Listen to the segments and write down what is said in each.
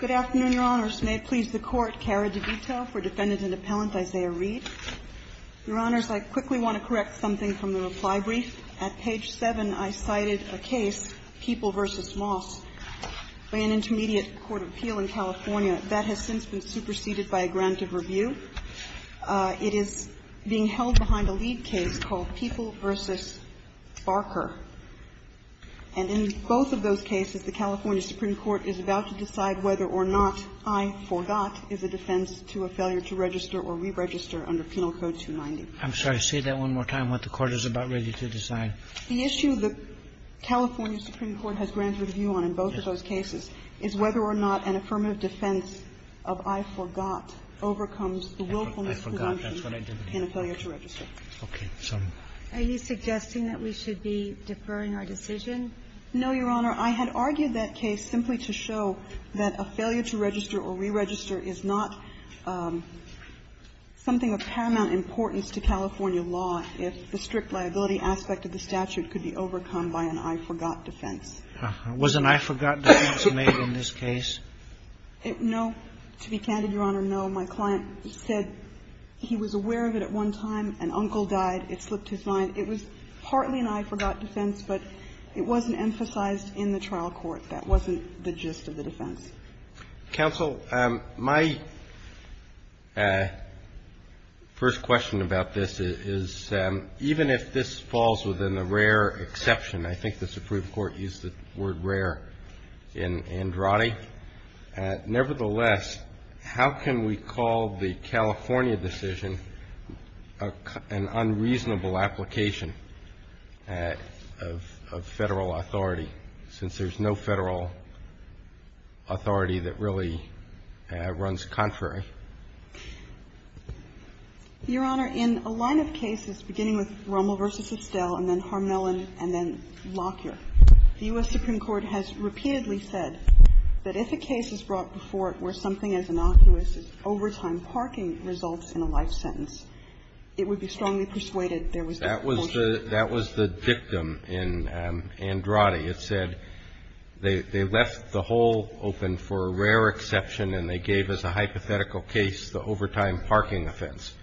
Good afternoon, Your Honors. May it please the Court, Kara DeVito for Defendant and Appellant, Isaiah Reed. Your Honors, I quickly want to correct something from the reply brief. At page 7, I cited a case, People v. Moss, by an intermediate court of appeal in California that has since been superseded by a grant of review. It is being held behind a lead case called People v. Barker. And in both of those cases, the California Supreme Court is about to decide whether or not I forgot is a defense to a failure to register or re-register under Penal Code 290. I'm sorry. Say that one more time, what the Court is about ready to decide. The issue the California Supreme Court has granted review on in both of those cases is whether or not an affirmative defense of I forgot overcomes the willfulness to review in a failure to register. I forgot. That's what I didn't hear. Okay. Sorry. Are you suggesting that we should be deferring our decision? No, Your Honor. I had argued that case simply to show that a failure to register or re-register is not something of paramount importance to California law if the strict liability aspect of the statute could be overcome by an I forgot defense. Was an I forgot defense made in this case? No. To be candid, Your Honor, no. My client said he was aware of it at one time. An uncle died. It slipped his mind. It was partly an I forgot defense, but it wasn't emphasized in the trial court. That wasn't the gist of the defense. Counsel, my first question about this is, even if this falls within the rare exception, I think the Supreme Court used the word rare in Andrade, nevertheless, how can we call the California decision an unreasonable application of Federal authority, since there's no Federal authority that really runs contrary? Your Honor, in a line of cases beginning with Romel v. Itzdell and then Harmelin and then Lockyer, the U.S. Supreme Court has repeatedly said that if a case is brought before it where something as innocuous as overtime parking results in a life sentence, it would be strongly persuaded there was no fault. That was the dictum in Andrade. It said they left the hole open for a rare exception, and they gave as a hypothetical case the overtime parking offense.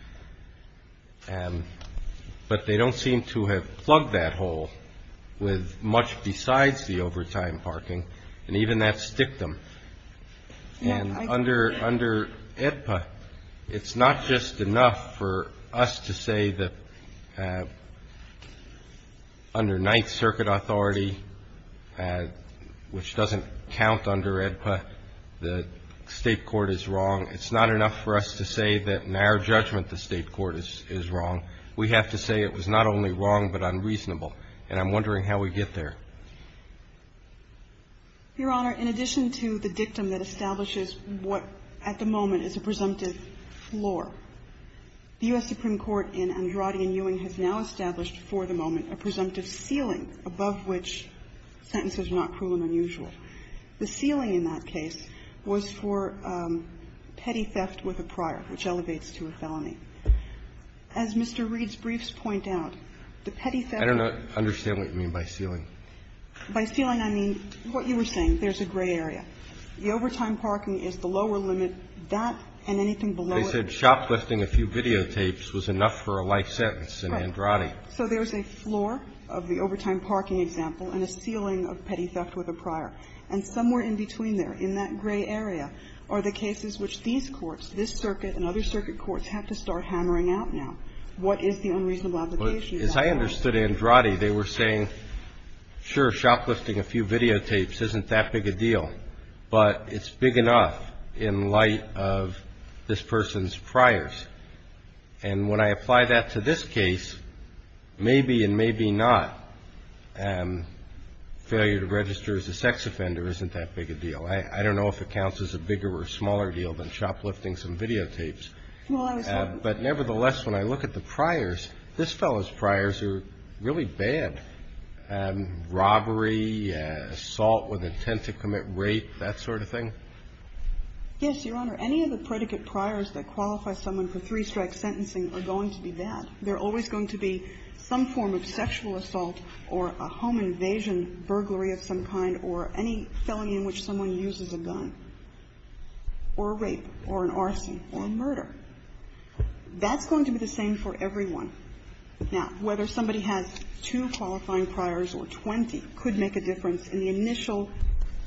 But they don't seem to have plugged that hole with much besides the overtime parking, and even that's dictum. And under AEDPA, it's not just enough for us to say that under Ninth Circuit authority, which doesn't count under AEDPA, the State court is wrong. It's not enough for us to say that in our judgment the State court is wrong. We have to say it was not only wrong, but unreasonable. And I'm wondering how we get there. Your Honor, in addition to the dictum that establishes what at the moment is a presumptive floor, the U.S. Supreme Court in Andrade and Ewing has now established for the moment a presumptive ceiling above which sentences are not cruel and unusual. The ceiling in that case was for petty theft with a prior, which elevates to a felony. As Mr. Reed's briefs point out, the petty theft of a prior is not a presumptive ceiling. By ceiling, I mean what you were saying, there's a gray area. The overtime parking is the lower limit. That and anything below it. They said shoplifting a few videotapes was enough for a life sentence in Andrade. Right. So there's a floor of the overtime parking example and a ceiling of petty theft with a prior. And somewhere in between there, in that gray area, are the cases which these courts, this circuit and other circuit courts, have to start hammering out now. What is the unreasonable application? As I understood Andrade, they were saying, sure, shoplifting a few videotapes isn't that big a deal, but it's big enough in light of this person's priors. And when I apply that to this case, maybe and maybe not, failure to register as a sex offender isn't that big a deal. I don't know if it counts as a bigger or smaller deal than shoplifting some videotapes. But nevertheless, when I look at the priors, this fellow's priors are really bad. Robbery, assault with intent to commit rape, that sort of thing. Yes, Your Honor. Any of the predicate priors that qualify someone for three-strike sentencing are going to be bad. They're always going to be some form of sexual assault or a home invasion, burglary of some kind, or any felony in which someone uses a gun, or rape, or an arson, or murder. That's going to be the same for everyone. Now, whether somebody has two qualifying priors or 20 could make a difference in the initial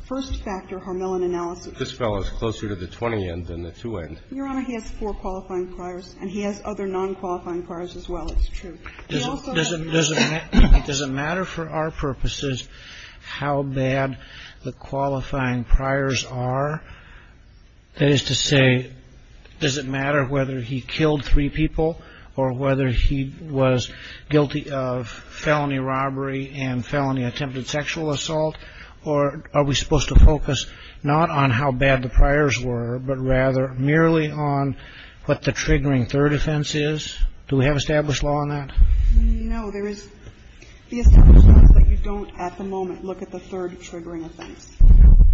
first-factor Harmelin analysis. This fellow is closer to the 20-end than the 2-end. Your Honor, he has four qualifying priors, and he has other non-qualifying priors as well. It's true. He also has one that's not. Does it matter for our purposes how bad the qualifying priors are? That is to say, does it matter whether he killed three people or whether he was guilty of felony robbery and felony attempted sexual assault? Or are we supposed to focus not on how bad the priors were, but rather merely on what the triggering third offense is? Do we have established law on that? No. There is the established law that you don't at the moment look at the third triggering offense.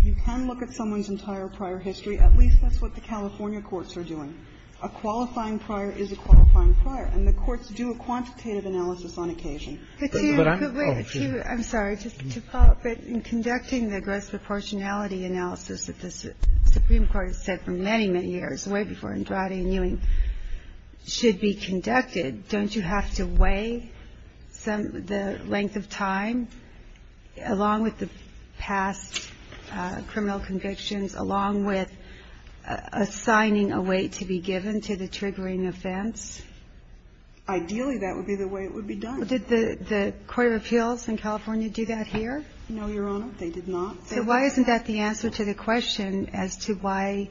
You can look at someone's entire prior history. At least that's what the California courts are doing. A qualifying prior is a qualifying prior, and the courts do a quantitative analysis on occasion. But I'm off. I'm sorry. Just to follow up. In conducting the gross proportionality analysis that the Supreme Court has said for many, many years, way before Andrade and Ewing, should be conducted, don't you have to weigh the length of time, along with the past criminal convictions, along with assigning a weight to be given to the triggering offense? Ideally, that would be the way it would be done. Did the Court of Appeals in California do that here? No, Your Honor. They did not. So why isn't that the answer to the question as to why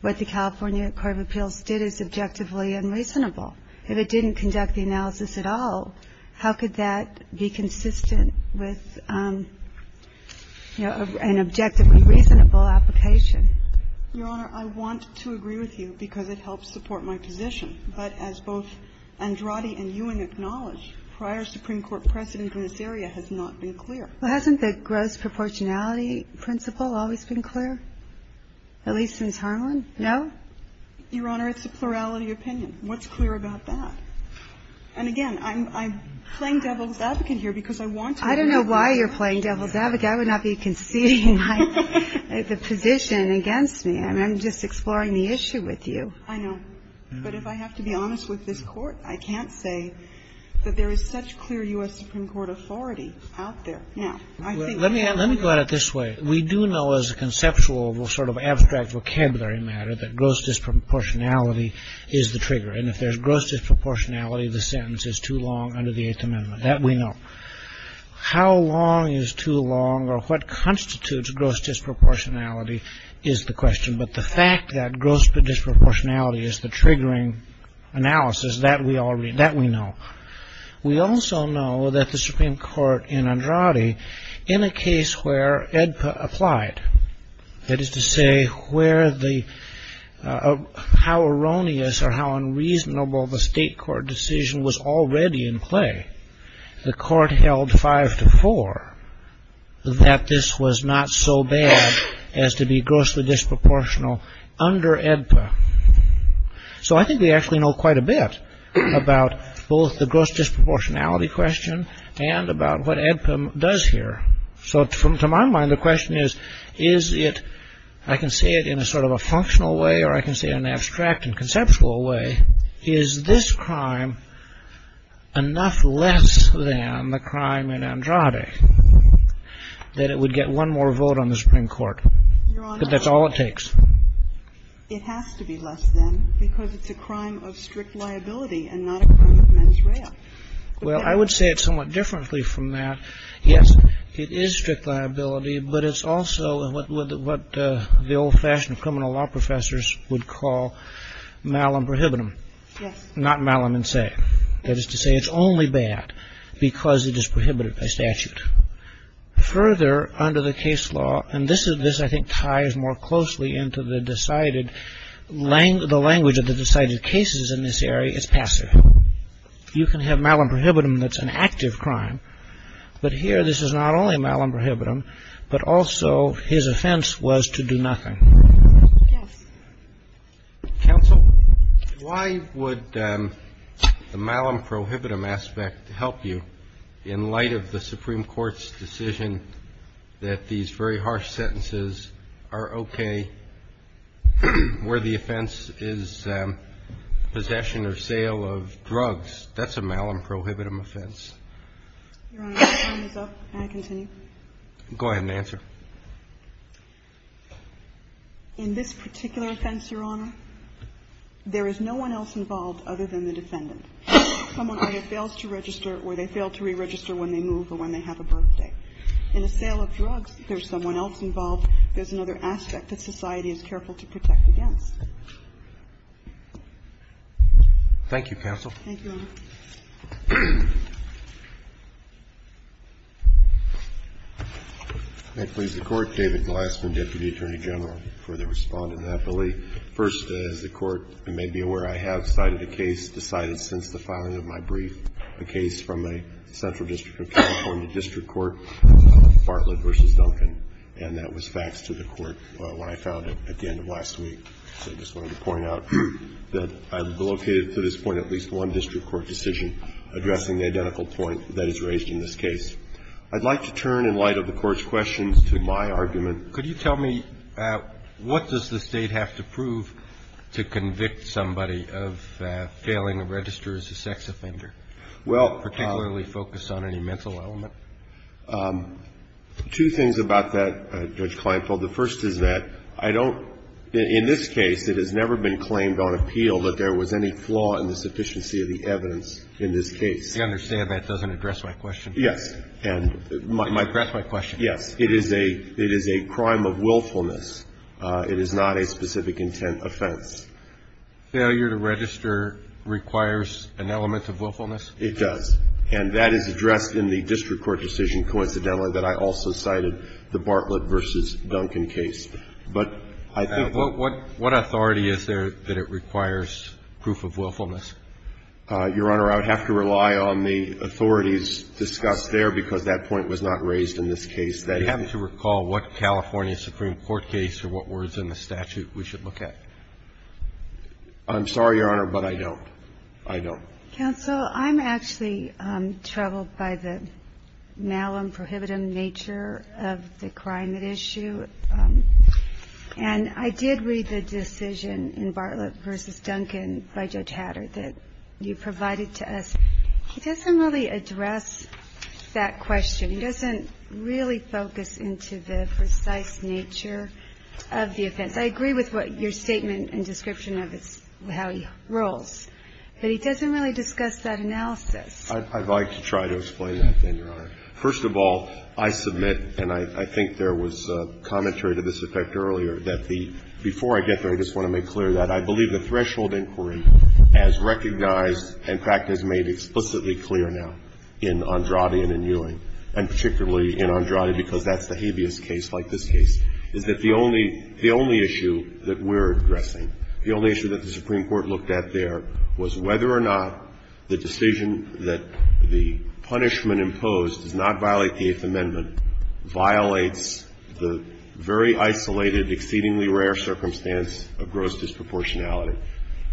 what the California Court of Appeals did is objectively unreasonable? If it didn't conduct the analysis at all, how could that be consistent with, you know, an objectively reasonable application? Your Honor, I want to agree with you, because it helps support my position. But as both Andrade and Ewing acknowledge, prior Supreme Court precedent in this area has not been clear. Well, hasn't the gross proportionality principle always been clear, at least since Harlan? No? Your Honor, it's a plurality opinion. What's clear about that? And again, I'm playing devil's advocate here, because I want to know. I don't know why you're playing devil's advocate. I would not be conceding the position against me. I'm just exploring the issue with you. I know. But if I have to be honest with this Court, I can't say that there is such clear U.S. Supreme Court authority out there. Now, I think that's a good point. Let me go at it this way. We do know, as a conceptual sort of abstract vocabulary matter, that gross disproportionality is the trigger. And if there's gross disproportionality, the sentence is too long under the Eighth Amendment. That we know. How long is too long, or what constitutes gross disproportionality, is the question. But the fact that gross disproportionality is the triggering analysis, that we know. We also know that the Supreme Court in Andrade, in a case where EDPA applied, that is to say, how erroneous or how unreasonable the state court decision was already in play, the court held five to four that this was not so bad as to be grossly disproportional under EDPA. So I think we actually know quite a bit about both the gross disproportionality question and about what EDPA does here. So to my mind, the question is, is it, I can say it in a sort of a functional way, or I can say it in an abstract and conceptual way, is this crime enough less than the crime in Andrade that it would get one more vote on the Supreme Court? Because that's all it takes. It has to be less than, because it's a crime of strict liability and not a crime of mens rea. Well, I would say it somewhat differently from that. Yes, it is strict liability, but it's also what the old-fashioned criminal law professors would call malum prohibitum, not malum in se. That is to say, it's only bad because it is prohibited by statute. Further under the case law, and this, I think, ties more closely into the language of the decided cases in this area, it's passive. You can have malum prohibitum that's an active crime, but here this is not only malum prohibitum, but also his offense was to do nothing. Counsel, why would the malum prohibitum aspect help you in light of the Supreme Court's decision that these very harsh sentences are okay where the offense is that possession or sale of drugs, that's a malum prohibitum offense? Your Honor, my time is up. Can I continue? Go ahead and answer. In this particular offense, Your Honor, there is no one else involved other than the defendant. Someone either fails to register or they fail to re-register when they move or when they have a birthday. In a sale of drugs, there's someone else involved. There's another aspect that society is careful to protect against. Thank you, Counsel. Thank you, Your Honor. May it please the Court. David Glassman, Deputy Attorney General. I'll further respond in that belief. First, as the Court may be aware, I have cited a case decided since the filing of my brief, a case from a central district of California district court, Bartlett v. Duncan, and that was faxed to the Court when I found it at the end of last week. So I just wanted to point out that I've located to this point at least one district court decision addressing the identical point that is raised in this case. I'd like to turn, in light of the Court's questions, to my argument. Could you tell me what does the State have to prove to convict somebody of failing to register as a sex offender, particularly focused on any mental element? Well, two things about that, Judge Kleinfeld. The first is that I don't – in this case, it has never been claimed on appeal that there was any flaw in the sufficiency of the evidence in this case. I understand that doesn't address my question. Yes, and my question is, it is a crime of willfulness. It is not a specific intent offense. Failure to register requires an element of willfulness? It does. And that is addressed in the district court decision, coincidentally, that I also cited, in the Bartlett v. Duncan case. But I think that – What authority is there that it requires proof of willfulness? Your Honor, I would have to rely on the authorities discussed there, because that point was not raised in this case. Do you happen to recall what California Supreme Court case or what words in the statute we should look at? I'm sorry, Your Honor, but I don't. I don't. Counsel, I'm actually troubled by the malum prohibitum nature of the crime at issue. And I did read the decision in Bartlett v. Duncan by Judge Hatter that you provided to us. He doesn't really address that question. He doesn't really focus into the precise nature of the offense. I agree with what your statement and description of how he rules. But he doesn't really discuss that analysis. I'd like to try to explain that, then, Your Honor. First of all, I submit, and I think there was commentary to this effect earlier, that the – before I get there, I just want to make clear that I believe the threshold inquiry as recognized and, in fact, as made explicitly clear now in Andrade and in Ewing, and particularly in Andrade because that's the habeas case like this case, is that the only issue that we're addressing, the only issue that the Supreme Court looked at there, was whether or not the decision that the punishment imposed does not violate the Eighth Amendment, violates the very isolated, exceedingly rare circumstance of gross disproportionality.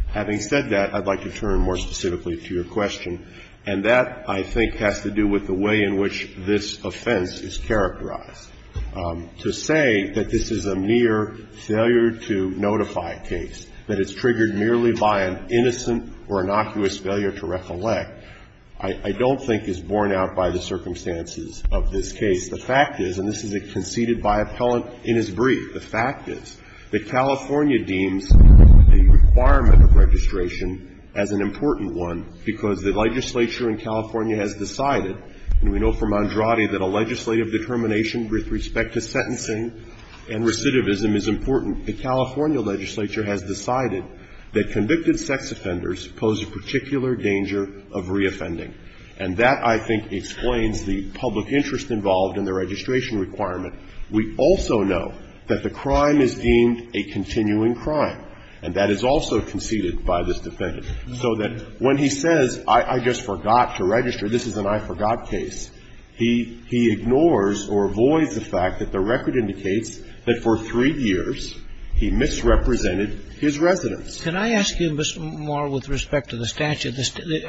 Having said that, I'd like to turn more specifically to your question. And that, I think, has to do with the way in which this offense is characterized. To say that this is a mere failure-to-notify case, that it's triggered merely by an innocent or innocuous failure to recollect, I don't think is borne out by the circumstances of this case. The fact is, and this is conceded by appellant in his brief, the fact is that California deems a requirement of registration as an important one because the legislature in California has decided, and we know from Andrade that a legislative determination with respect to sentencing and recidivism is important. The California legislature has decided that convicted sex offenders pose a particular danger of reoffending. And that, I think, explains the public interest involved in the registration requirement. We also know that the crime is deemed a continuing crime. And that is also conceded by this defendant. So that when he says, I just forgot to register, this is an I forgot case, he ignores or avoids the fact that the record indicates that for three years he misrepresented his residence. Can I ask you more with respect to the statute?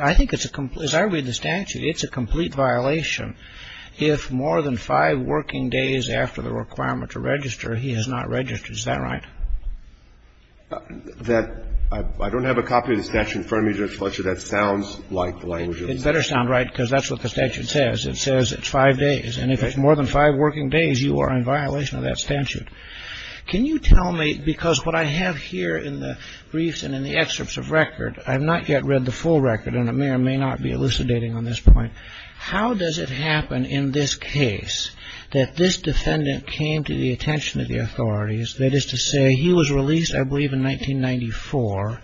I think it's a complete, as I read the statute, it's a complete violation. If more than five working days after the requirement to register, he has not registered. Is that right? That, I don't have a copy of the statute in front of me, Judge Fletcher. That sounds like the language of the statute. It better sound right because that's what the statute says. It says it's five days. And if it's more than five working days, you are in violation of that statute. Can you tell me, because what I have here in the briefs and in the excerpts of record, I've not yet read the full record, and it may or may not be elucidating on this point. How does it happen in this case that this defendant came to the attention of the authorities, that is to say, he was released, I believe, in 1994.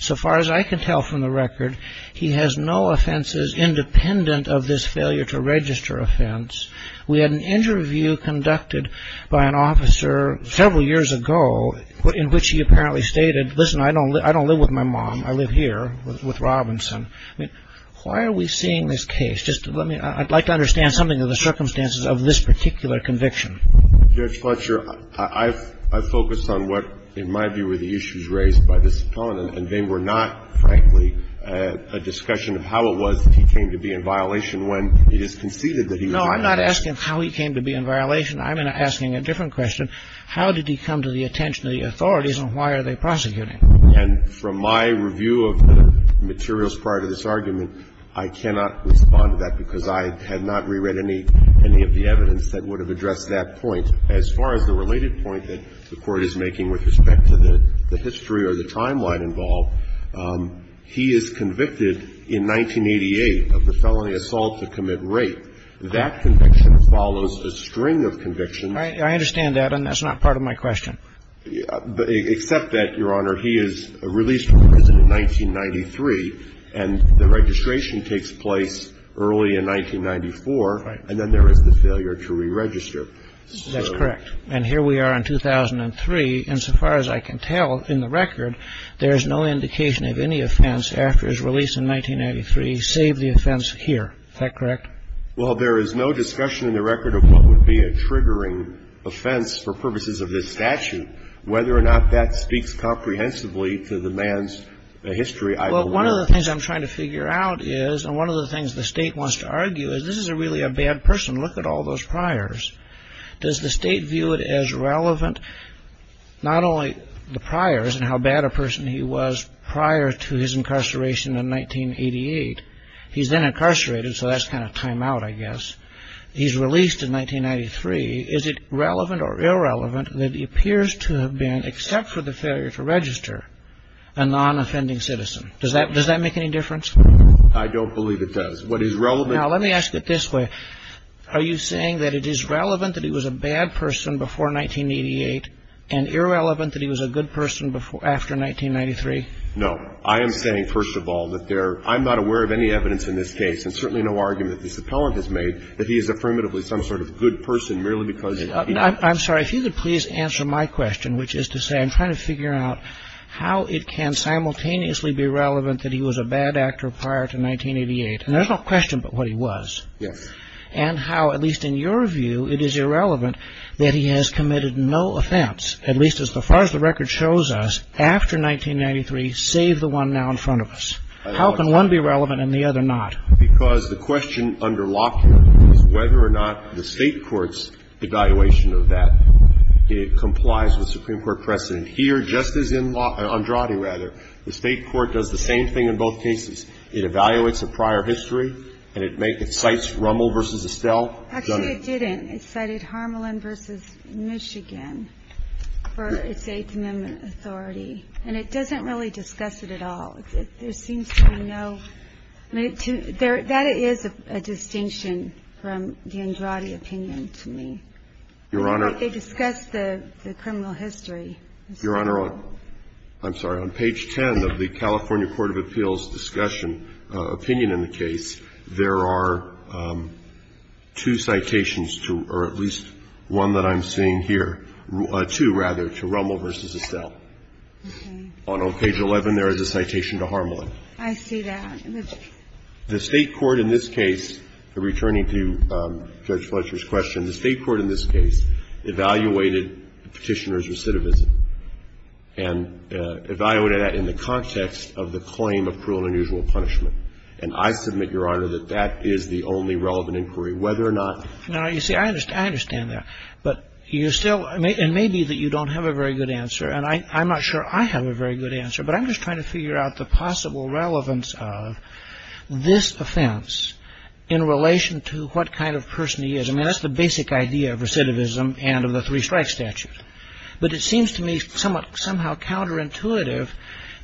So far as I can tell from the record, he has no offenses independent of this failure to register offense. We had an interview conducted by an officer several years ago in which he apparently stated, listen, I don't live with my mom. I live here with Robinson. I mean, why are we seeing this case? Just let me, I'd like to understand something of the circumstances of this particular conviction. Judge Fletcher, I focused on what, in my view, were the issues raised by this defendant, and they were not, frankly, a discussion of how it was that he came to be in violation when it is conceded that he was in violation. No, I'm not asking how he came to be in violation. I'm asking a different question. How did he come to the attention of the authorities, and why are they prosecuting? And from my review of the materials prior to this argument, I cannot respond to that because I had not reread any of the evidence that would have addressed that point. As far as the related point that the Court is making with respect to the history or the timeline involved, he is convicted in 1988 of the felony assault to commit rape. That conviction follows a string of convictions. I understand that, and that's not part of my question. Except that, Your Honor, he is released from prison in 1993, and the registration takes place early in 1994, and then there is the failure to re-register. That's correct. And here we are in 2003, and so far as I can tell in the record, there is no indication of any offense after his release in 1993, save the offense here. Is that correct? Well, there is no discussion in the record of what would be a triggering offense for purposes of this statute. Whether or not that speaks comprehensively to the man's history, I don't know. Well, one of the things I'm trying to figure out is, and one of the things the state wants to argue, is this is really a bad person. Look at all those priors. Does the state view it as relevant, not only the priors and how bad a person he was prior to his incarceration in 1988? He's then incarcerated, so that's kind of time out, I guess. He's released in 1993. Is it relevant or irrelevant that he appears to have been, except for the failure to register, a non-offending citizen? Does that make any difference? I don't believe it does. What is relevant- Now, let me ask it this way. Are you saying that it is relevant that he was a bad person before 1988 and irrelevant that he was a good person after 1993? No. I am saying, first of all, that there, I'm not aware of any evidence in this case, and certainly no argument that this appellant has made, that he is affirmatively some sort of good person merely because he- I'm sorry. If you could please answer my question, which is to say I'm trying to figure out how it can simultaneously be relevant that he was a bad actor prior to 1988. And there's no question but what he was. Yes. And how, at least in your view, it is irrelevant that he has committed no offense, at least as far as the record shows us, after 1993, save the one now in front of us. How can one be relevant and the other not? Because the question under lock here is whether or not the state court's evaluation of that, it complies with Supreme Court precedent here, just as in Andrade, rather. The state court does the same thing in both cases. It evaluates a prior history and it makes, it cites Rummel versus Estelle. Actually, it didn't. It cited Harmelin versus Michigan for its Eighth Amendment authority. And it doesn't really discuss it at all. There seems to be no, that is a distinction from the Andrade opinion to me. Your Honor. They discuss the criminal history. Your Honor, I'm sorry. On page 10 of the California Court of Appeals discussion, opinion in the case, there are two citations to, or at least one that I'm seeing here, two, rather, to Rummel versus Estelle. Okay. On page 11, there is a citation to Harmelin. I see that. The state court in this case, returning to Judge Fletcher's question, the state court in this case evaluated Petitioner's recidivism. And evaluated that in the context of the claim of cruel and unusual punishment. And I submit, Your Honor, that that is the only relevant inquiry, whether or not. Now, you see, I understand that. But you still, and maybe that you don't have a very good answer. And I'm not sure I have a very good answer. But I'm just trying to figure out the possible relevance of this offense in relation to what kind of person he is. I mean, that's the basic idea of recidivism and of the three-strike statute. But it seems to me somewhat, somehow counterintuitive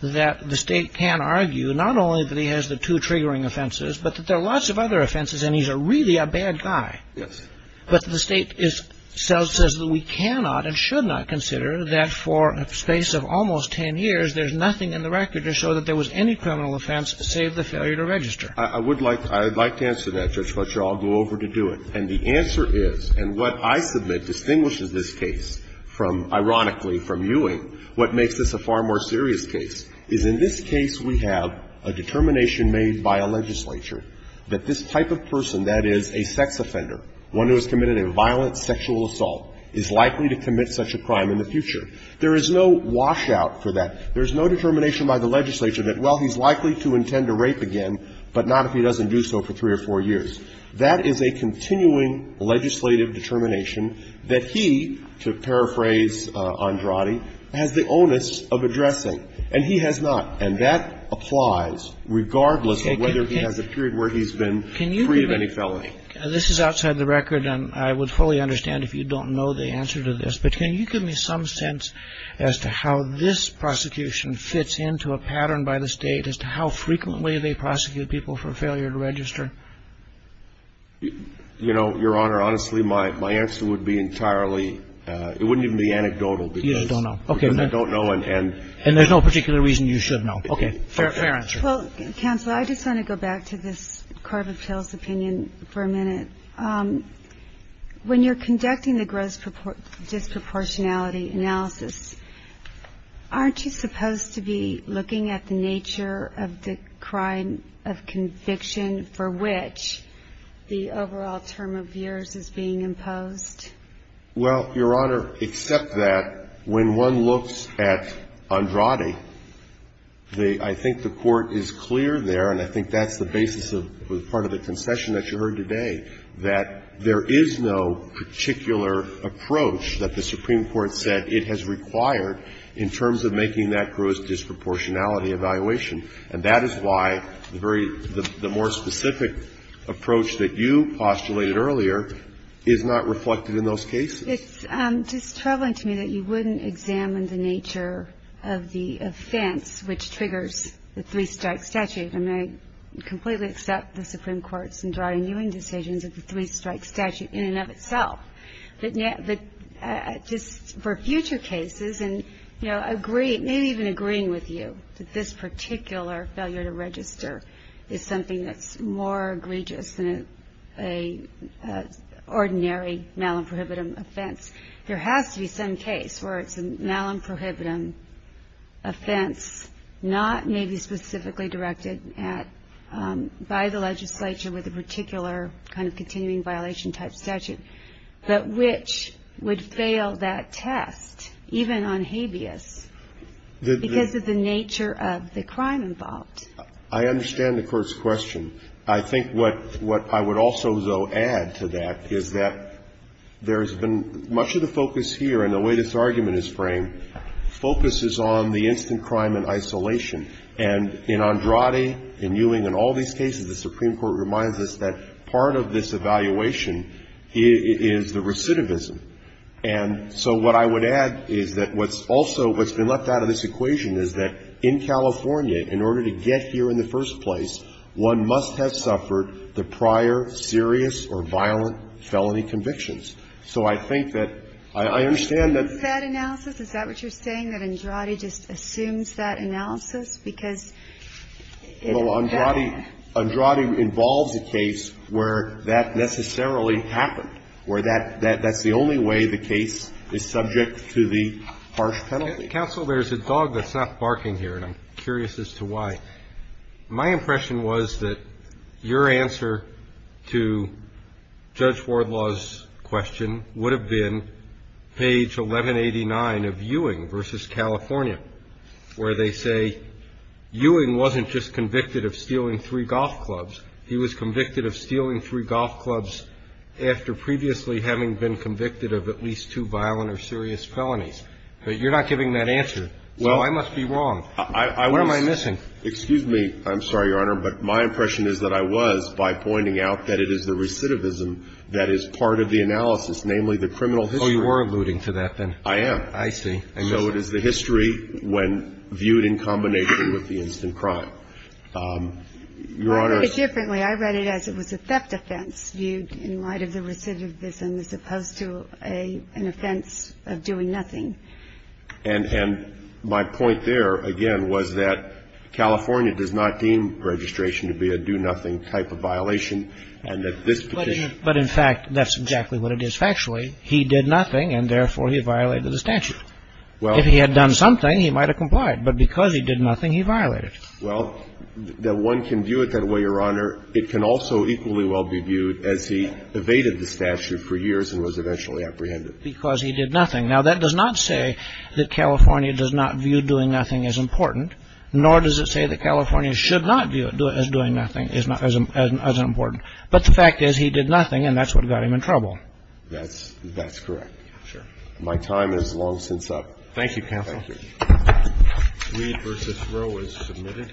that the state can argue, not only that he has the two triggering offenses, but that there are lots of other offenses and he's really a bad guy. Yes. But the state is, says that we cannot and should not consider that for a space of almost ten years, there's nothing in the record to show that there was any criminal offense save the failure to register. I would like, I'd like to answer that, Judge Fletcher. I'll go over to do it. And the answer is, and what I submit distinguishes this case from, ironically, from Ewing, what makes this a far more serious case, is in this case we have a determination made by a legislature that this type of person, that is, a sex offender, one who has committed a violent sexual assault, is likely to commit such a crime in the future. There is no washout for that. There's no determination by the legislature that, well, he's likely to intend to rape again, but not if he doesn't do so for three or four years. That is a continuing legislative determination that he, to paraphrase Andrade, has the onus of addressing, and he has not. And that applies regardless of whether he has a period where he's been free of any felony. This is outside the record, and I would fully understand if you don't know the answer to this, but can you give me some sense as to how this prosecution fits into a pattern by the state as to how frequently they prosecute people for failure to register? You know, Your Honor, honestly, my answer would be entirely, it wouldn't even be anecdotal. You don't know. Okay. Because I don't know, and. And there's no particular reason you should know. Okay. Fair answer. Well, counsel, I just want to go back to this carve of tales opinion for a minute. When you're conducting the gross disproportionality analysis, aren't you supposed to be looking at the nature of the crime of conviction for which the overall term of years is being imposed? Well, Your Honor, except that, when one looks at Andrade, I think the Court is clear there, and I think that's the basis of part of the concession that you heard today, that there is no particular approach that the Supreme Court said it has required in terms of making that gross disproportionality evaluation. And that is why the very, the more specific approach that you postulated earlier is not reflected in those cases. It's just troubling to me that you wouldn't examine the nature of the offense which triggers the three-strike statute. I mean, I completely accept the Supreme Court's Andrade-Ewing decisions of the three-strike statute in and of itself. But just for future cases and, you know, agree, maybe even agreeing with you that this particular failure to register is something that's more egregious than an ordinary malum prohibitum offense. There has to be some case where it's a malum prohibitum offense not maybe specifically directed at, by the legislature with a particular kind of continuing violation type statute, but which would fail that test even on habeas because of the nature of the crime involved. I understand the Court's question. I think what I would also, though, add to that is that there's been much of the focus here and the way this argument is framed focuses on the instant crime in isolation and in Andrade, in Ewing, in all these cases, the Supreme Court reminds us that part of this evaluation is the recidivism. And so what I would add is that what's also, what's been left out of this equation is that in California, in order to get here in the first place, one must have suffered the prior serious or violent felony convictions. So I think that I understand that the lawyer's position is that it's a malum prohibit because it's a malum prohibit. Andrade involves a case where that necessarily happened, where that's the only way the case is subject to the harsh penalty. Counsel, there's a dog that's not barking here, and I'm curious as to why. My impression was that your answer to Judge Wardlaw's question would have been page 1189 of Ewing v. California, where they say Ewing wasn't just convicted of stealing three golf clubs. He was convicted of stealing three golf clubs after previously having been convicted of at least two violent or serious felonies. But you're not giving that answer, so I must be wrong. What am I missing? Well, I was, excuse me, I'm sorry, Your Honor, but my impression is that I was by pointing out that it is the recidivism that is part of the analysis, namely the criminal history. You were alluding to that, then. I am. I see. So it is the history when viewed in combination with the instant crime. Your Honor — I read it differently. I read it as it was a theft offense viewed in light of the recidivism as opposed to an offense of doing nothing. And my point there, again, was that California does not deem registration to be a do-nothing type of violation, and that this petition — But in fact, that's exactly what it is. Factually, he did nothing, and therefore he violated the statute. If he had done something, he might have complied. But because he did nothing, he violated it. Well, one can view it that way, Your Honor. It can also equally well be viewed as he evaded the statute for years and was eventually apprehended. Because he did nothing. Now, that does not say that California does not view doing nothing as important, nor does it say that California should not view it as doing nothing as important. That's correct. My time is long since up. Thank you, counsel. Thank you. Weed v. Roe is submitted.